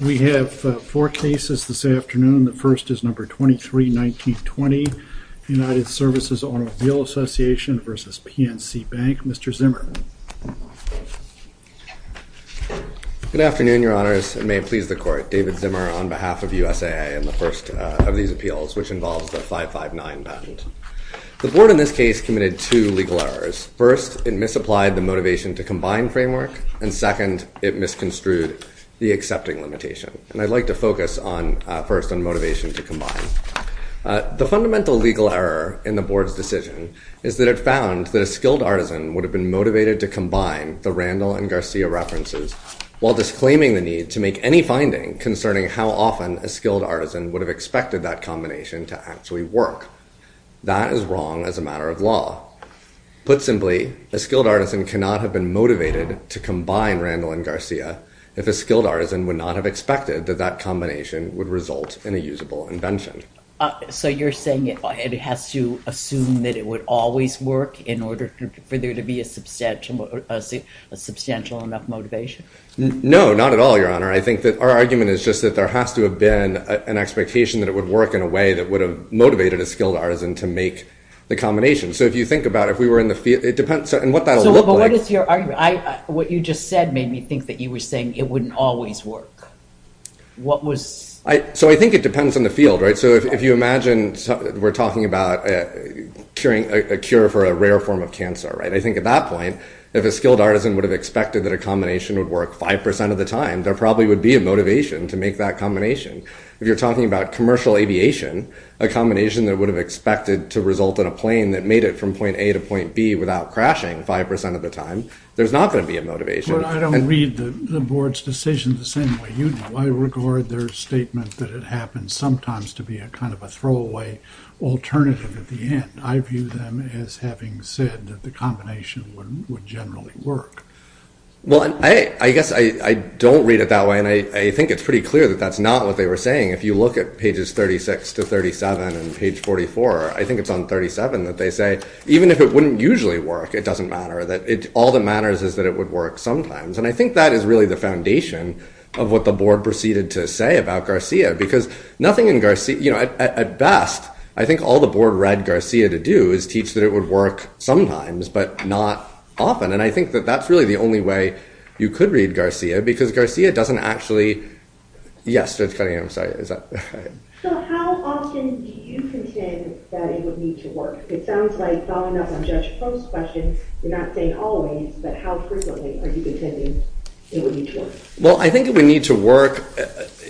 We have four cases this afternoon. The first is number 23-19-20, United Services Automobile Association v. PNC Bank. Mr. Zimmer. Good afternoon, your honors. It may please the court. David Zimmer on behalf of USAA in the first of these appeals, which involves the 559 patent. The board in this case committed two legal errors. First, it misapplied the motivation to combine framework, and second, it misconstrued the accepting limitation. And I'd like to focus first on motivation to combine. The fundamental legal error in the board's decision is that it found that a skilled artisan would have been motivated to combine the Randall and Garcia references while disclaiming the need to make any finding concerning how often a skilled artisan would have expected that combination to actually work. That is wrong as a part of law. Put simply, a skilled artisan cannot have been motivated to combine Randall and Garcia if a skilled artisan would not have expected that that combination would result in a usable invention. So you're saying it has to assume that it would always work in order for there to be a substantial enough motivation? No, not at all, your honor. I think that our argument is just that there has to have been an expectation that it would work in a way that would have motivated a skilled artisan to make the combination. So if you think about it, if we were in the field, it depends on what that would look like. So what is your argument? What you just said made me think that you were saying it wouldn't always work. What was? So I think it depends on the field, right? So if you imagine we're talking about a cure for a rare form of cancer, right? I think at that point, if a skilled artisan would have expected that a combination would work 5% of the time, there probably would be a motivation to make that combination. If you're talking about a combination that would have expected to result in a plane that made it from point A to point B without crashing 5% of the time, there's not going to be a motivation. But I don't read the board's decision the same way you do. I regard their statement that it happens sometimes to be a kind of a throwaway alternative at the end. I view them as having said that the combination would generally work. Well, I guess I don't read it that way. And I think it's pretty clear that that's not what they were saying. If you look at pages 36 to 37 and page 44, I think it's on 37 that they say, even if it wouldn't usually work, it doesn't matter. All that matters is that it would work sometimes. And I think that is really the foundation of what the board proceeded to say about Garcia, because nothing in Garcia, you know, at best, I think all the board read Garcia to do is teach that it would work sometimes, but not often. And I think that that's really the only way you could read Garcia, because Garcia doesn't actually... Yes, Judge Cunningham, sorry. So how often do you contend that it would need to work? It sounds like following up on Judge Post's question, you're not saying always, but how frequently are you contending it would need to work? Well, I think it would need to work,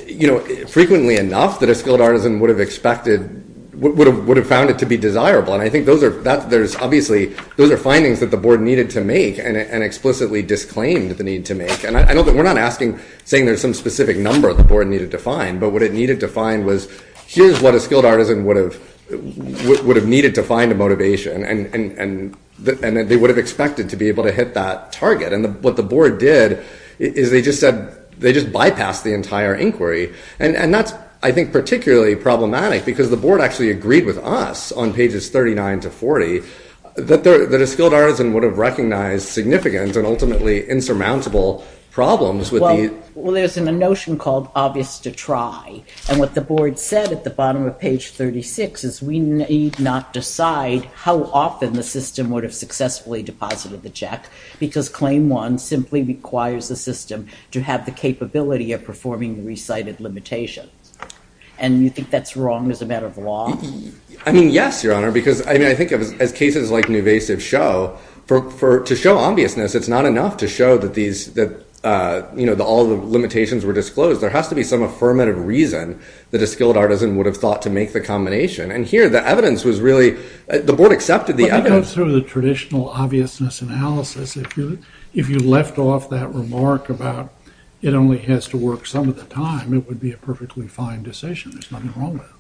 you know, frequently enough that a skilled artisan would have expected, would have found it to be desirable. And I think those are, there's obviously, those are findings that the board needed to make and explicitly disclaimed the need to make. And I don't think, we're not asking, saying there's some specific number the board needed to find, but what it needed to find was, here's what a skilled artisan would have needed to find a motivation. And they would have expected to be able to hit that target. And what the board did is they just said, they just bypassed the entire inquiry. And that's, I think, particularly problematic, because the board actually agreed with us on pages 39 to 40, that a skilled artisan would have recognized significant and ultimately insurmountable problems with the... Well, there's a notion called obvious to try. And what the board said at the bottom of page 36 is we need not decide how often the system would have successfully deposited the check, because claim one simply requires the system to have the capability of performing the recited limitation. And you think that's wrong as a matter of law? I mean, yes, Your Honor, because I think as cases like Nuvasiv show, to show obviousness, it's not enough to show that all the limitations were disclosed. There has to be some affirmative reason that a skilled artisan would have thought to make the combination. And here, the evidence was really, the board accepted the evidence. But that goes through the traditional obviousness analysis. If you left off that remark about it only has to work some of the time, it would be a perfectly fine decision. There's nothing wrong with it.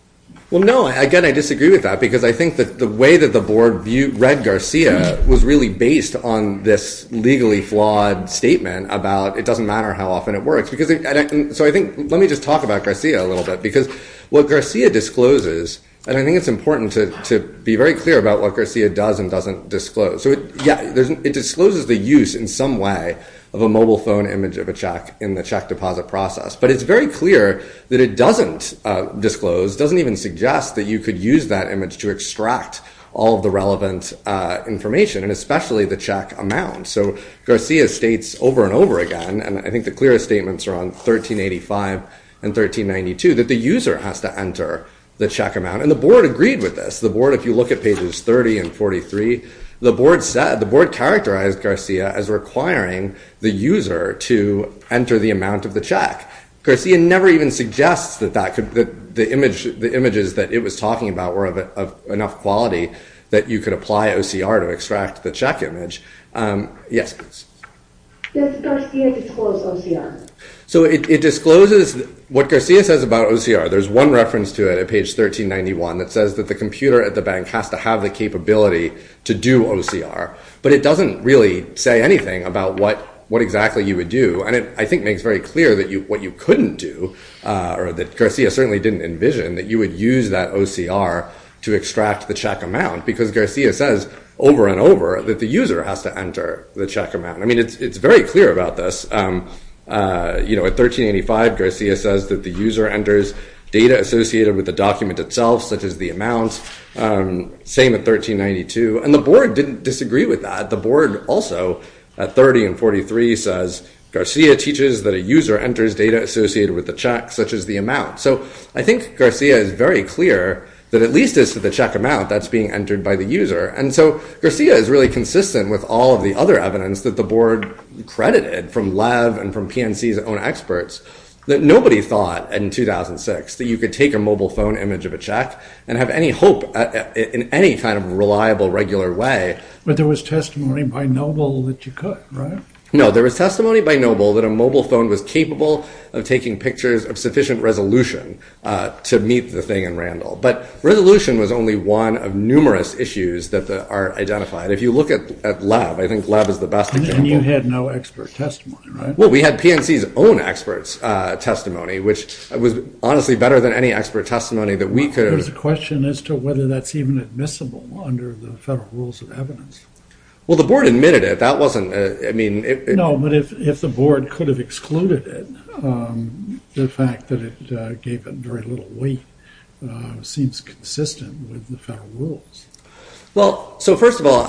Well, no, again, I disagree with that, because I think that the way that the board read Garcia was really based on this legally flawed statement about it doesn't matter how often it works. So let me just talk about Garcia a little bit, because what Garcia discloses, and I think it's important to be very clear about what Garcia does and doesn't disclose. So yeah, it discloses the use in some way of a mobile phone image of a check in the check deposit process, but it's very clear that it doesn't disclose, doesn't even suggest that you could use that image to extract all of the relevant information, and especially the check amount. So Garcia states over and over again, and I think the clearest statements are on 1385 and 1392, that the user has to enter the check amount, and the board agreed with this. The board, if you look at pages 30 and 43, the board characterized Garcia as requiring the user to enter the amount of the check. Garcia never even suggests that the images that it was talking about were of enough quality that you could apply OCR to extract the check image. Yes, please. Does Garcia disclose OCR? So it discloses what Garcia says about OCR. There's one reference to it at page 1391 that says that the computer at the bank has to have the capability to do OCR, but it doesn't really say anything about what exactly you would do. And it, I think, makes very clear that what you couldn't do, or that Garcia certainly didn't envision, that you would use that OCR to extract the check amount, because Garcia says over and over that the user has to enter the check amount. I mean, it's very clear about this. At 1385, Garcia says that the user enters data associated with the document itself, such as the amount. Same at 1392. And the board didn't disagree with that. The board also, at 30 and 43, says Garcia teaches that a user enters data associated with the check, such as the amount. So I think Garcia is very clear that at least it's the check amount that's being entered by the user. And so Garcia is really consistent with all of the other evidence that the board credited from Lev and from PNC's own experts that nobody thought in 2006 that you could take a mobile phone image of a check and have any hope in any kind of reliable, regular way. But there was testimony by Noble that you could, right? No, there was testimony by Noble that a mobile phone was capable of taking pictures of sufficient resolution to meet the thing in Randall. But resolution was only one of numerous issues that are identified. If you look at Lev, I think Lev is the best example. And you had no expert testimony, right? Well, we had PNC's own experts' testimony, which was honestly better than any expert testimony that we could have… There's a question as to whether that's even admissible under the federal rules of evidence. Well, the board admitted it. That wasn't, I mean… No, but if the board could have excluded it, the fact that it gave it very little weight seems consistent with the federal rules. Well, so first of all,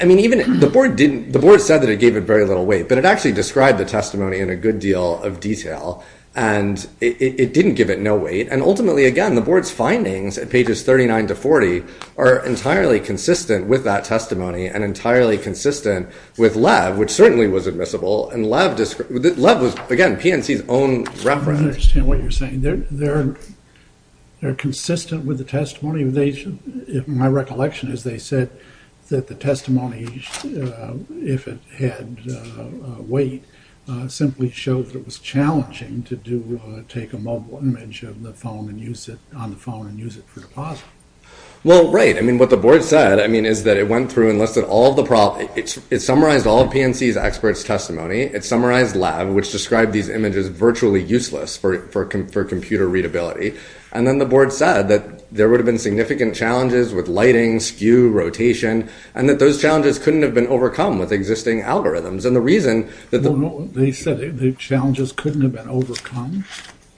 I mean, even the board said that it gave it very little weight, but it actually described the testimony in a good deal of detail, and it didn't give it no weight. And ultimately, again, the board's findings at pages 39 to 40 are entirely consistent with that testimony and entirely consistent with Lev, which certainly was admissible. And Lev was, again, PNC's own reference. I understand what you're saying. I mean, they're consistent with the testimony. My recollection is they said that the testimony, if it had weight, simply showed that it was challenging to take a mobile image on the phone and use it for deposit. Well, right. I mean, what the board said, I mean, is that it went through and listed all the problems. It summarized all of PNC's experts' testimony. It summarized Lev, which described these images virtually useless for computer readability. And then the board said that there would have been significant challenges with lighting, skew, rotation, and that those challenges couldn't have been overcome with existing algorithms. And the reason that the – They said the challenges couldn't have been overcome?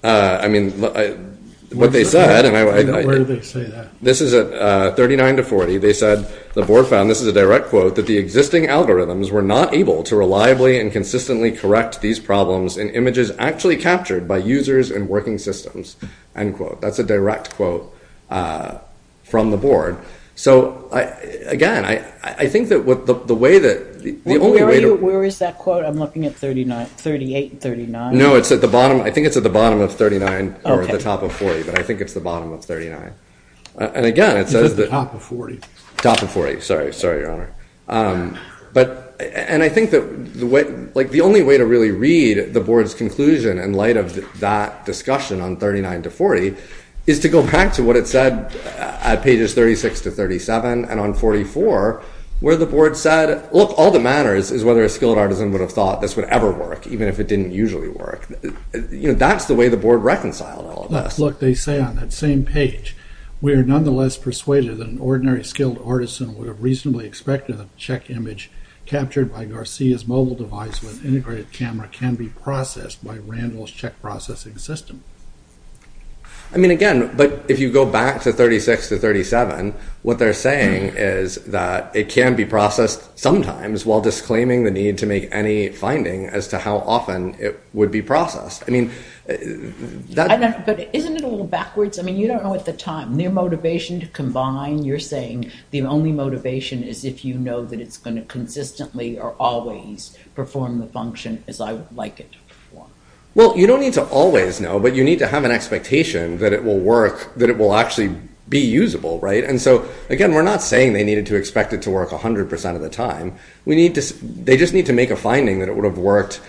I mean, what they said – Where did they say that? This is at 39 to 40. They said the board found – this is a direct quote – that the existing algorithms were not able to reliably and consistently correct these problems in images actually captured by users and working systems, end quote. That's a direct quote from the board. So, again, I think that the way that – the only way to – Where is that quote? I'm looking at 38 and 39. No, it's at the bottom. I think it's at the bottom of 39 or at the top of 40. But I think it's the bottom of 39. And, again, it says that – It's at the top of 40. Top of 40. Sorry. Sorry, Your Honor. But – and I think that the way – like, the only way to really read the board's conclusion in light of that discussion on 39 to 40 is to go back to what it said at pages 36 to 37 and on 44 where the board said, look, all that matters is whether a skilled artisan would have thought this would ever work, even if it didn't usually work. You know, that's the way the board reconciled all of this. But, look, they say on that same page, we are nonetheless persuaded that an ordinary skilled artisan would have reasonably expected that the check image captured by Garcia's mobile device with integrated camera can be processed by Randall's check processing system. I mean, again, but if you go back to 36 to 37, what they're saying is that it can be processed sometimes while disclaiming the need to make any finding as to how often it would be processed. I mean, that – Isn't it a little backwards? I mean, you don't know at the time. Their motivation to combine, you're saying the only motivation is if you know that it's going to consistently or always perform the function as I would like it to perform. Well, you don't need to always know, but you need to have an expectation that it will work, that it will actually be usable, right? And so, again, we're not saying they needed to expect it to work 100 percent of the time. We need to – they just need to make a finding that it would have worked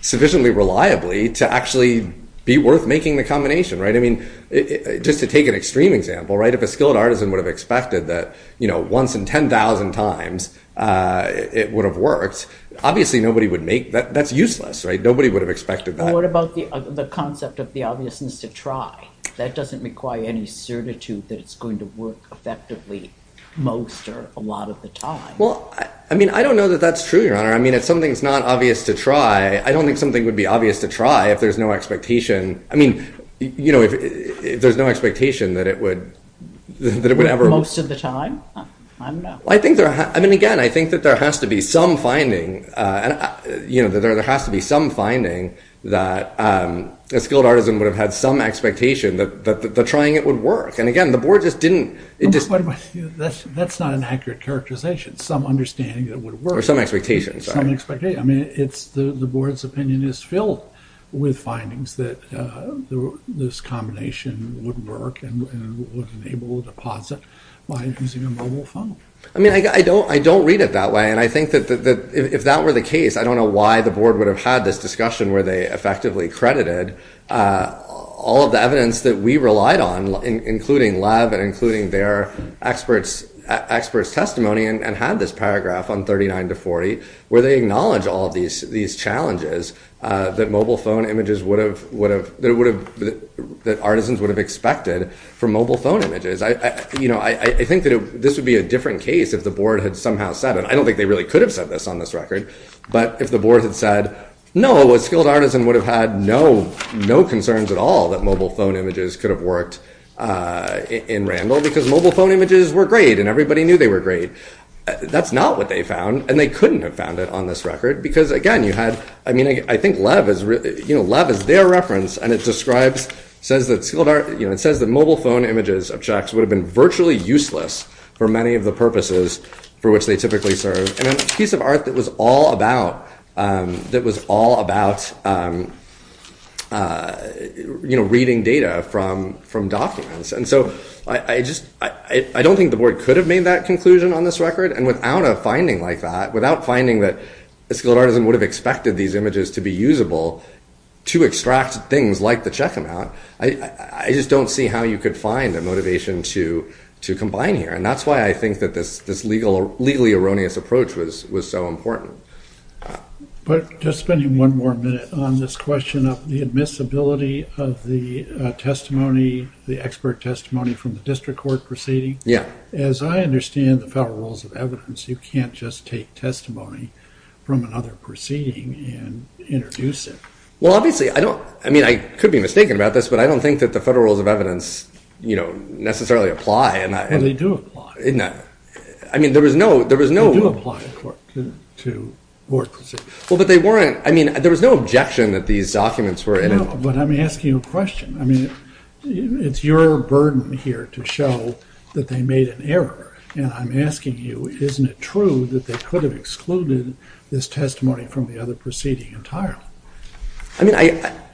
sufficiently reliably to actually be worth making the combination, right? I mean, just to take an extreme example, right, if a skilled artisan would have expected that, you know, once in 10,000 times it would have worked, obviously nobody would make – that's useless, right? Nobody would have expected that. And what about the concept of the obviousness to try? That doesn't require any certitude that it's going to work effectively most or a lot of the time. Well, I mean, I don't know that that's true, Your Honor. I mean, if something's not obvious to try, I don't think something would be obvious to try if there's no expectation. I mean, you know, if there's no expectation that it would ever – Most of the time? I don't know. I mean, again, I think that there has to be some finding, you know, that there has to be some finding that a skilled artisan would have had some expectation that trying it would work. And, again, the Board just didn't – That's not an accurate characterization. Some understanding that it would work. Or some expectation, sorry. Some expectation. I mean, the Board's opinion is filled with findings that this combination would work and would enable a deposit by using a mobile phone. I mean, I don't read it that way, and I think that if that were the case, I don't know why the Board would have had this discussion where they effectively credited all of the evidence that we relied on, including Lev and including their experts' testimony, and had this paragraph on 39 to 40 where they acknowledge all of these challenges that mobile phone images would have – that artisans would have expected from mobile phone images. You know, I think that this would be a different case if the Board had somehow said it. I don't think they really could have said this on this record. But if the Board had said, no, a skilled artisan would have had no concerns at all that mobile phone images could have worked in Randall because mobile phone images were great and everybody knew they were great. That's not what they found, and they couldn't have found it on this record because, again, you had – you know, Lev is their reference, and it describes – says that skilled – you know, it says that mobile phone images of checks would have been virtually useless for many of the purposes for which they typically serve, and a piece of art that was all about – that was all about, you know, reading data from documents. And so I just – I don't think the Board could have made that conclusion on this record. And without a finding like that, without finding that a skilled artisan would have expected these images to be usable to extract things like the check amount, I just don't see how you could find a motivation to combine here. And that's why I think that this legally erroneous approach was so important. But just spending one more minute on this question of the admissibility of the testimony, the expert testimony from the district court proceeding. Yeah. As I understand the federal rules of evidence, you can't just take testimony from another proceeding and introduce it. Well, obviously, I don't – I mean, I could be mistaken about this, but I don't think that the federal rules of evidence, you know, necessarily apply. Well, they do apply. I mean, there was no – there was no – Well, but they weren't – I mean, there was no objection that these documents were – No, but I'm asking a question. I mean, it's your burden here to show that they made an error. And I'm asking you, isn't it true that they could have excluded this testimony from the other proceeding entirely? I mean, I –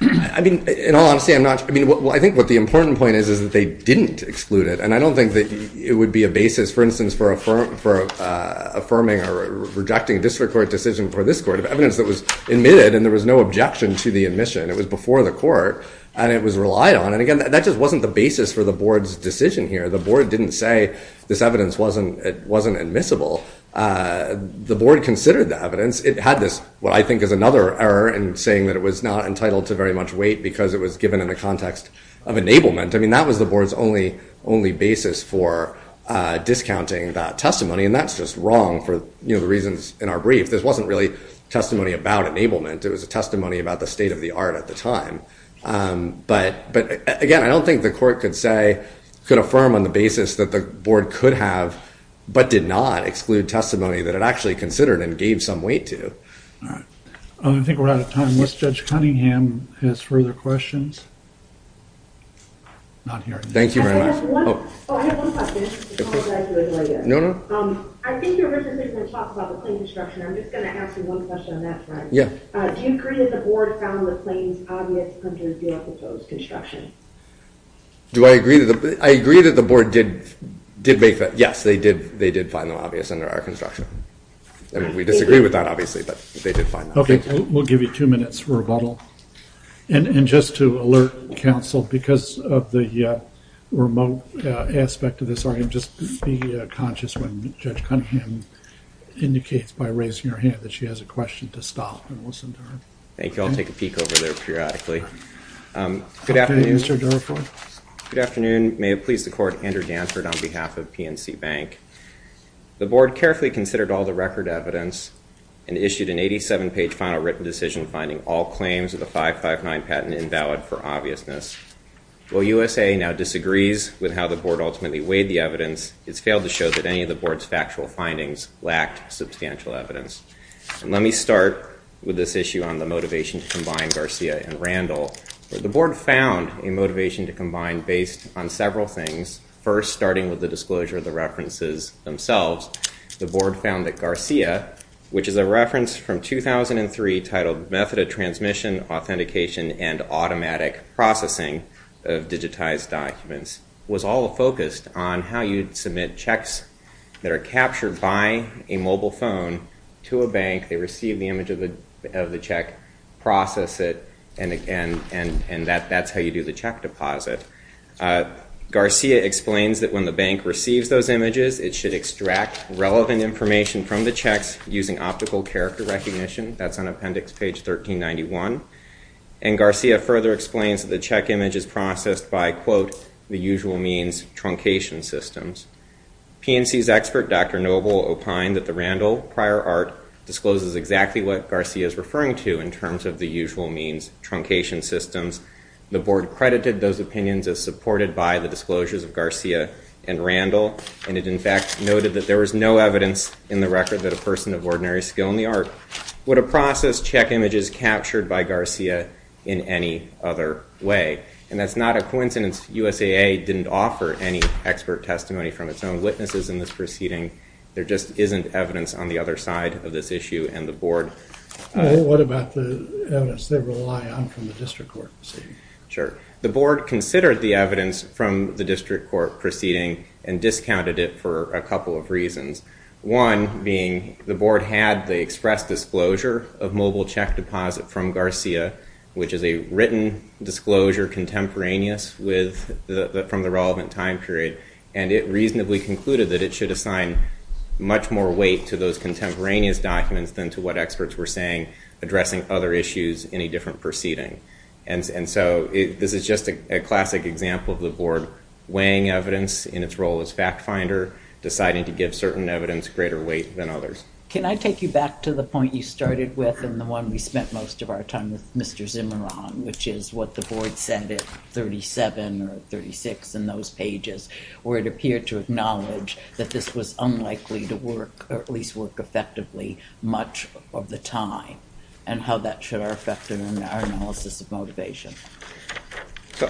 I mean, in all honesty, I'm not – I mean, well, I think what the important point is is that they didn't exclude it. And I don't think that it would be a basis, for instance, for affirming or rejecting a district court decision for this court of evidence that was admitted and there was no objection to the admission. It was before the court, and it was relied on. And, again, that just wasn't the basis for the board's decision here. The board didn't say this evidence wasn't admissible. The board considered the evidence. It had this – what I think is another error in saying that it was not entitled to very much weight because it was given in the context of enablement. I mean, that was the board's only basis for discounting that testimony. And that's just wrong for, you know, the reasons in our brief. This wasn't really testimony about enablement. It was a testimony about the state of the art at the time. But, again, I don't think the court could say – could affirm on the basis that the board could have but did not exclude testimony that it actually considered and gave some weight to. All right. I think we're out of time. Does Judge Cunningham have further questions? Not hearing. Thank you very much. Oh, I have one question. No, no. I think you originally were going to talk about the plane construction. I'm just going to ask you one question on that front. Yeah. Do you agree that the board found the planes obvious under the proposed construction? Do I agree that the – I agree that the board did make that – yes, they did find them obvious under our construction. We disagree with that, obviously, but they did find them. We'll give you two minutes for rebuttal. And just to alert counsel, because of the remote aspect of this argument, just be conscious when Judge Cunningham indicates by raising her hand that she has a question to stop and listen to her. Thank you. I'll take a peek over there periodically. Good afternoon. Good afternoon, Mr. Durford. Good afternoon. May it please the court. Andrew Danford on behalf of PNC Bank. The board carefully considered all the record evidence and issued an 87-page final written decision finding all claims of the 559 patent invalid for obviousness. While USA now disagrees with how the board ultimately weighed the evidence, it's failed to show that any of the board's factual findings lacked substantial evidence. And let me start with this issue on the motivation to combine Garcia and Randall. The board found a motivation to combine based on several things, first starting with the disclosure of the references themselves. The board found that Garcia, which is a reference from 2003 titled Method of Transmission, Authentication, and Automatic Processing of Digitized Documents, was all focused on how you'd submit checks that are captured by a mobile phone to a bank. They receive the image of the check, process it, and that's how you do the check deposit. Garcia explains that when the bank receives those images, it should extract relevant information from the checks using optical character recognition. That's on appendix page 1391. And Garcia further explains that the check image is processed by, quote, the usual means, truncation systems. PNC's expert, Dr. Noble, opined that the Randall prior art discloses exactly what Garcia is referring to in terms of the usual means, truncation systems. The board credited those opinions as supported by the disclosures of Garcia and Randall, and it in fact noted that there was no evidence in the record that a person of ordinary skill in the art would have processed check images captured by Garcia in any other way. And that's not a coincidence. USAA didn't offer any expert testimony from its own witnesses in this proceeding. There just isn't evidence on the other side of this issue, and the board... Well, what about the evidence they rely on from the district court proceeding? Sure. The board considered the evidence from the district court proceeding and discounted it for a couple of reasons. One being the board had the express disclosure of mobile check deposit from Garcia, which is a written disclosure contemporaneous from the relevant time period, and it reasonably concluded that it should assign much more weight to those contemporaneous documents than to what experts were saying, addressing other issues in a different proceeding. And so this is just a classic example of the board weighing evidence in its role as fact finder, deciding to give certain evidence greater weight than others. Can I take you back to the point you started with and the one we spent most of our time with, Mr. Zimmeron, which is what the board said at 37 or 36 in those pages, where it appeared to acknowledge that this was unlikely to work, or at least work effectively, much of the time, and how that should affect our analysis of motivation.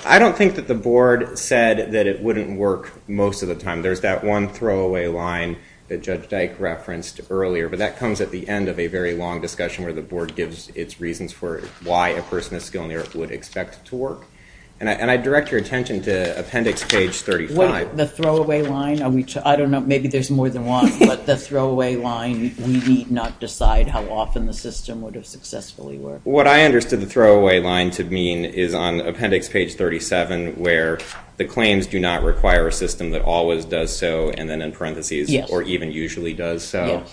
I don't think that the board said that it wouldn't work most of the time. There's that one throwaway line that Judge Dyke referenced earlier, but that comes at the end of a very long discussion where the board gives its reasons for why a person of skill and merit would expect it to work. And I direct your attention to appendix page 35. The throwaway line? I don't know. Maybe there's more than one. But the throwaway line, we need not decide how often the system would have successfully worked. What I understood the throwaway line to mean is on appendix page 37, where the claims do not require a system that always does so, and then in parentheses, or even usually does so.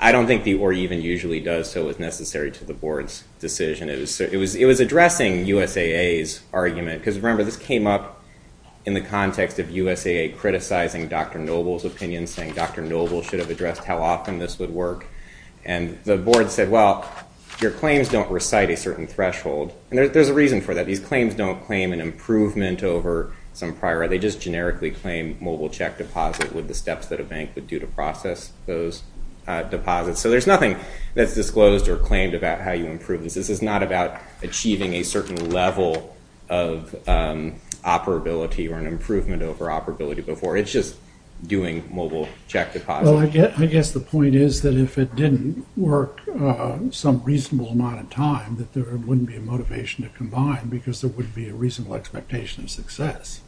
I don't think the or even usually does so is necessary to the board's decision. It was addressing USAA's argument. Because remember, this came up in the context of USAA criticizing Dr. Noble's opinion, saying Dr. Noble should have addressed how often this would work. And the board said, well, your claims don't recite a certain threshold. And there's a reason for that. These claims don't claim an improvement over some prior. They just generically claim mobile check deposit with the steps that a bank would do to process those deposits. So there's nothing that's disclosed or claimed about how you improve this. This is not about achieving a certain level of operability or an improvement over operability before. It's just doing mobile check deposit. Well, I guess the point is that if it didn't work some reasonable amount of time, that there wouldn't be a motivation to combine because there wouldn't be a reasonable expectation of success.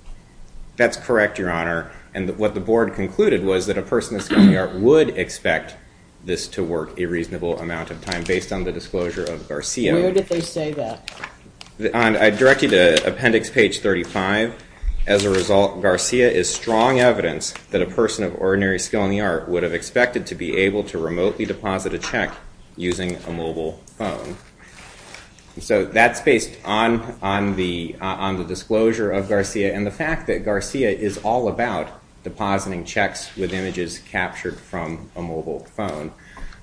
That's correct, Your Honor. And what the board concluded was that a person of skill in the art would expect this to work a reasonable amount of time based on the disclosure of Garcia. Where did they say that? I direct you to appendix page 35. As a result, Garcia is strong evidence that a person of ordinary skill in the art would have expected to be able to remotely deposit a check using a mobile phone. So that's based on the disclosure of Garcia and the fact that Garcia is all about depositing checks with images captured from a mobile phone.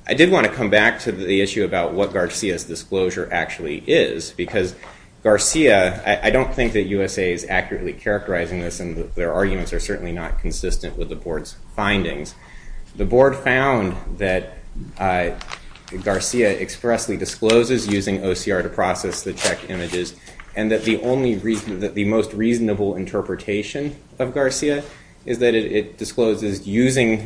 I did want to come back to the issue about what Garcia's disclosure actually is. Because Garcia, I don't think that USA is accurately characterizing this and their arguments are certainly not consistent with the board's findings. The board found that Garcia expressly discloses using OCR to process the check images and that the most reasonable interpretation of Garcia is that it discloses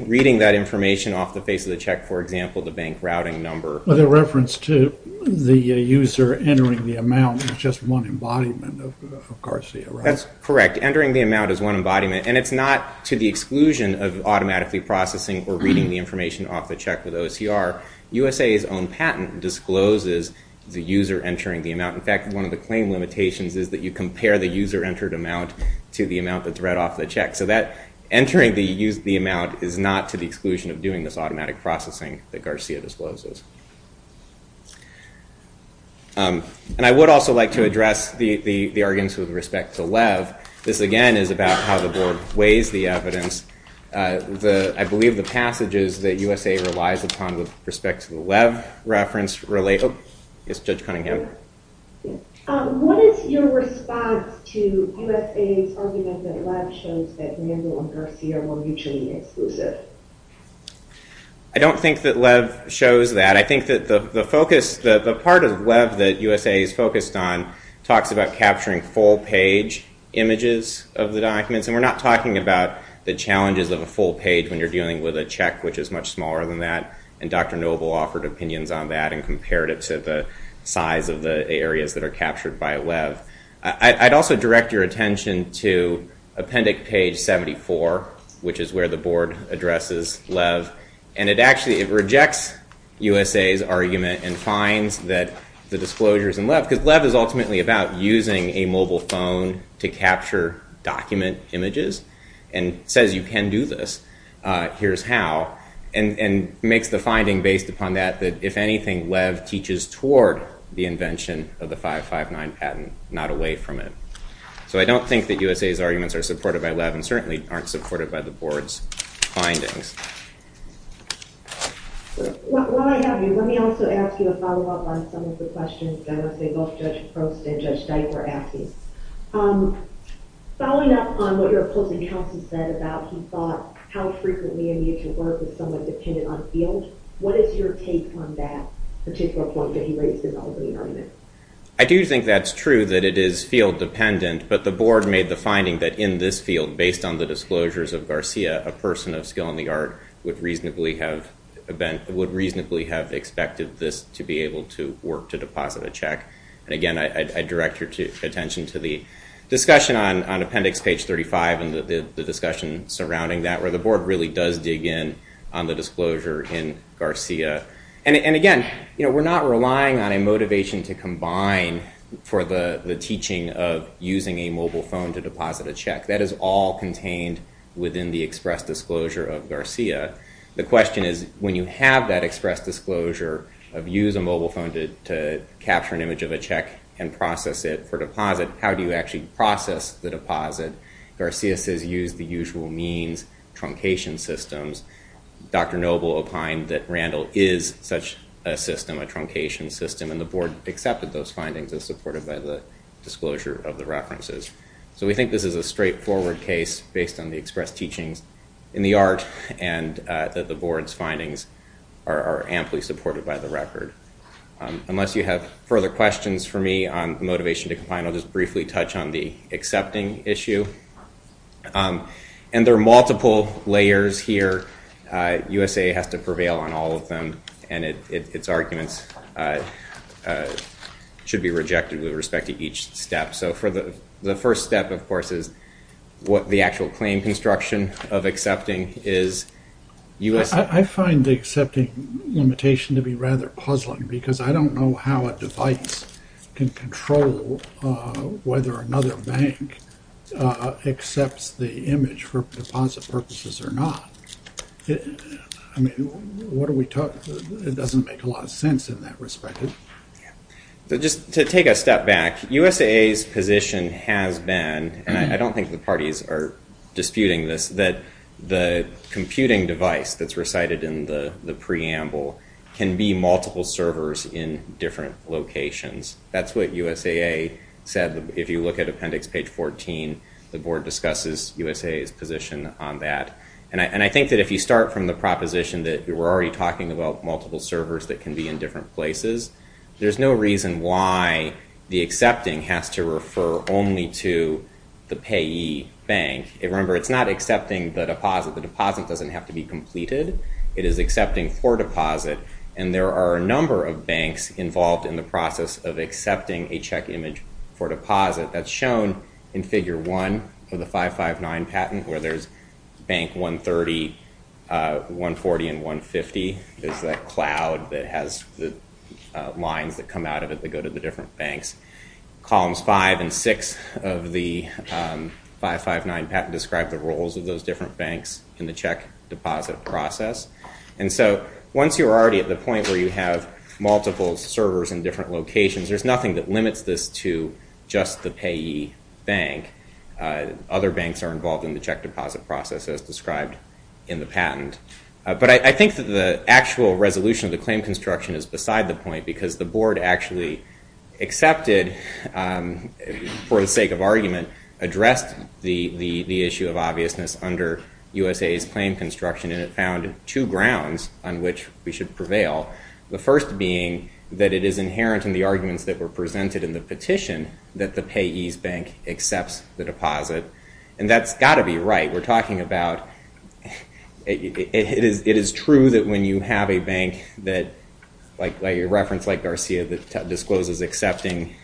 reading that information off the face of the check. For example, the bank routing number. The reference to the user entering the amount is just one embodiment of Garcia, right? That's correct. Entering the amount is one embodiment and it's not to the exclusion of automatically processing or reading the information off the check with OCR. USA's own patent discloses the user entering the amount. In fact, one of the claim limitations is that you compare the user entered amount to the amount that's read off the check. So that entering the amount is not to the exclusion of doing this automatic processing that Garcia discloses. And I would also like to address the arguments with respect to Lev. This, again, is about how the board weighs the evidence. I believe the passages that USA relies upon with respect to the Lev reference relate. Yes, Judge Cunningham. What is your response to USA's argument that Lev shows that Randall and Garcia were mutually exclusive? I don't think that Lev shows that. I think that the part of Lev that USA is focused on talks about capturing full page images of the documents. And we're not talking about the challenges of a full page when you're dealing with a check, which is much smaller than that. And Dr. Noble offered opinions on that and compared it to the size of the areas that are captured by Lev. I'd also direct your attention to appendix page 74, which is where the board addresses Lev. And it actually, it rejects USA's argument and finds that the disclosures in Lev, because Lev is ultimately about using a mobile phone to capture document images and says you can do this, here's how. And makes the finding based upon that, that if anything, Lev teaches toward the invention of the 559 patent, not away from it. So I don't think that USA's arguments are supported by Lev and certainly aren't supported by the board's findings. While I have you, let me also ask you a follow-up on some of the questions that I want to say both Judge Prost and Judge Dyke were asking. Following up on what your opposing counsel said about how frequently a mutual work is somewhat dependent on field, what is your take on that particular point that he raised in the opening argument? I do think that's true, that it is field dependent, but the board made the finding that in this field, based on the disclosures of Garcia, a person of skill in the art would reasonably have expected this to be able to work to deposit a check. And again, I direct your attention to the discussion on appendix page 35 and the discussion surrounding that, where the board really does dig in on the disclosure in Garcia. And again, we're not relying on a motivation to combine for the teaching of using a mobile phone to deposit a check. That is all contained within the express disclosure of Garcia. The question is, when you have that express disclosure of use a mobile phone to capture an image of a check and process it for deposit, how do you actually process the deposit? Garcia says use the usual means, truncation systems. Dr. Noble opined that Randall is such a system, a truncation system, and the board accepted those findings as supported by the disclosure of the references. So we think this is a straightforward case based on the express teachings in the art and that the board's findings are amply supported by the record. Unless you have further questions for me on motivation to combine, I'll just briefly touch on the accepting issue. And there are multiple layers here. USA has to prevail on all of them, and its arguments should be rejected with respect to each step. So the first step, of course, is what the actual claim construction of accepting is. I find the accepting limitation to be rather puzzling, because I don't know how a device can control whether another bank accepts the image for deposit purposes or not. I mean, it doesn't make a lot of sense in that respect. Just to take a step back, USA's position has been, and I don't think the parties are disputing this, that the computing device that's recited in the preamble can be multiple servers in different locations. That's what USAA said. If you look at appendix page 14, the board discusses USAA's position on that. And I think that if you start from the proposition that we're already talking about multiple servers that can be in different places, there's no reason why the accepting has to refer only to the payee bank. Remember, it's not accepting the deposit. The deposit doesn't have to be completed. It is accepting for deposit. And there are a number of banks involved in the process of accepting a check image for deposit. That's shown in figure 1 of the 559 patent, where there's bank 130, 140, and 150. There's that cloud that has the lines that come out of it that go to the different banks. Columns 5 and 6 of the 559 patent describe the roles of those different banks in the check deposit process. And so once you're already at the point where you have multiple servers in different locations, there's nothing that limits this to just the payee bank. Other banks are involved in the check deposit process, as described in the patent. But I think that the actual resolution of the claim construction is beside the point, because the board actually accepted, for the sake of argument, addressed the issue of obviousness under USAA's claim construction, and it found two grounds on which we should prevail. The first being that it is inherent in the arguments that were presented in the petition that the payee's bank accepts the deposit. And that's got to be right. We're talking about it is true that when you have a bank that, like your reference, like Garcia, that discloses accepting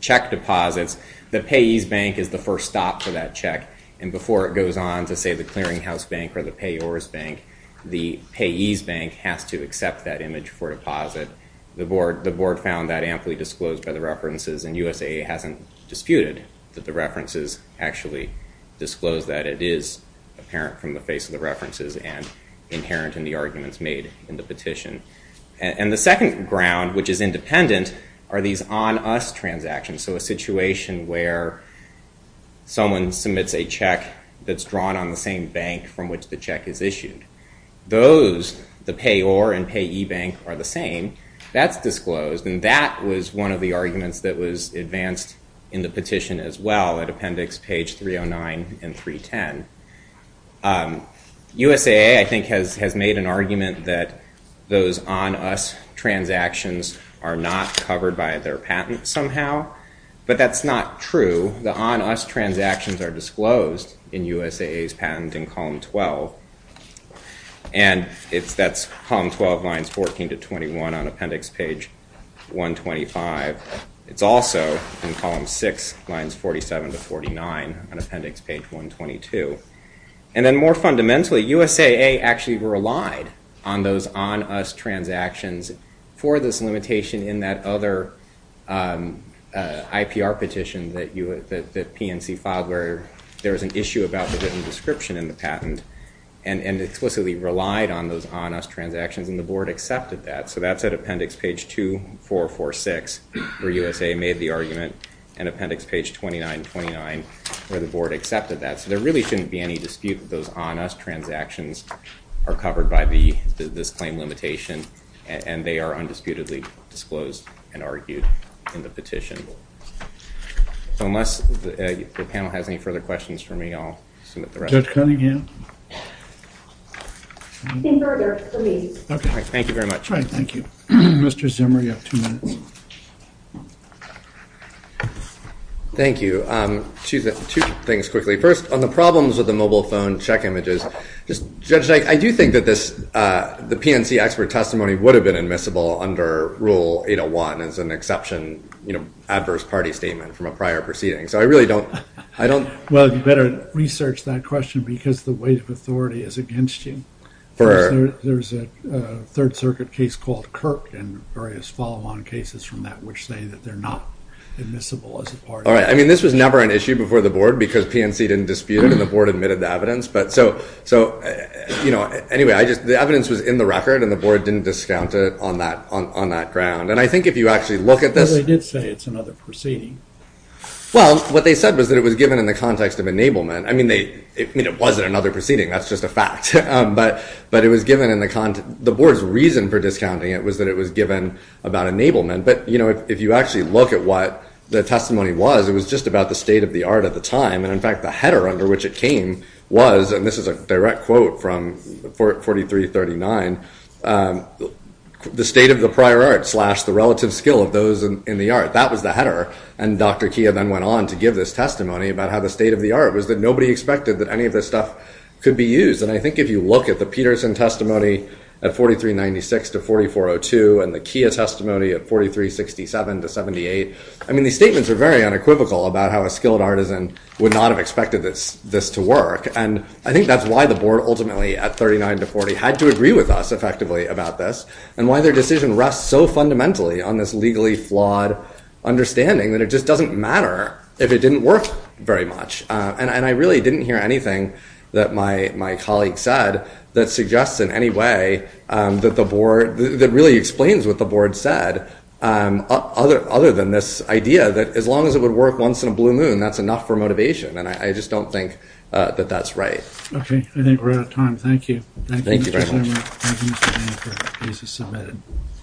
check deposits, the payee's bank is the first stop for that check. And before it goes on to, say, the clearinghouse bank or the payor's bank, the payee's bank has to accept that image for deposit. The board found that amply disclosed by the references, and USAA hasn't disputed that the references actually disclose that it is apparent from the face of the references and inherent in the arguments made in the petition. And the second ground, which is independent, are these on-us transactions, so a situation where someone submits a check that's drawn on the same bank from which the check is issued. Those, the payor and payee bank, are the same. That's disclosed, and that was one of the arguments that was advanced in the petition as well at appendix page 309 and 310. USAA, I think, has made an argument that those on-us transactions are not covered by their patent somehow, but that's not true. The on-us transactions are disclosed in USAA's patent in column 12, and that's column 12, lines 14 to 21 on appendix page 125. It's also in column 6, lines 47 to 49 on appendix page 122. And then more fundamentally, USAA actually relied on those on-us transactions for this limitation in that other IPR petition that PNC filed where there was an issue about the written description in the patent and explicitly relied on those on-us transactions, and the board accepted that. So that's at appendix page 2446 where USAA made the argument, and appendix page 2929 where the board accepted that. So there really shouldn't be any dispute that those on-us transactions are covered by this claim limitation, and they are undisputedly disclosed and argued in the petition. So unless the panel has any further questions for me, I'll submit the rest. Judge Cunningham? In order, please. Thank you very much. Mr. Zimmer, you have two minutes. Thank you. Two things quickly. First, on the problems with the mobile phone check images, Judge Dyke, I do think that the PNC expert testimony would have been admissible under Rule 801 as an exception adverse party statement from a prior proceeding. Well, you better research that question because the weight of authority is against you. There's a Third Circuit case called Kirk and various follow-on cases from that which say that they're not admissible as a part of that. All right. I mean, this was never an issue before the board because PNC didn't dispute it, and the board admitted the evidence. Anyway, the evidence was in the record, and the board didn't discount it on that ground. And I think if you actually look at this... I did say it's another proceeding. Well, what they said was that it was given in the context of enablement. I mean, it wasn't another proceeding. That's just a fact. But it was given in the context. The board's reason for discounting it was that it was given about enablement. But, you know, if you actually look at what the testimony was, it was just about the state of the art at the time. And, in fact, the header under which it came was, and this is a direct quote from 4339, the state of the prior art slash the relative skill of those in the art. That was the header. And Dr. Kia then went on to give this testimony about how the state of the art was that nobody expected that any of this stuff could be used. And I think if you look at the Peterson testimony at 4396 to 4402 and the Kia testimony at 4367 to 78, I mean, these statements are very unequivocal about how a skilled artisan would not have expected this to work. And I think that's why the board ultimately, at 39 to 40, had to agree with us effectively about this and why their decision rests so fundamentally on this legally flawed understanding that it just doesn't matter if it didn't work very much. And I really didn't hear anything that my colleague said that suggests in any way that the board, that really explains what the board said other than this idea that as long as it would work once in a blue moon, that's enough for motivation. And I just don't think that that's right. I think we're out of time. Thank you. Thank you very much. Thank you. Thank you. Thank you. Thank you. Thank you.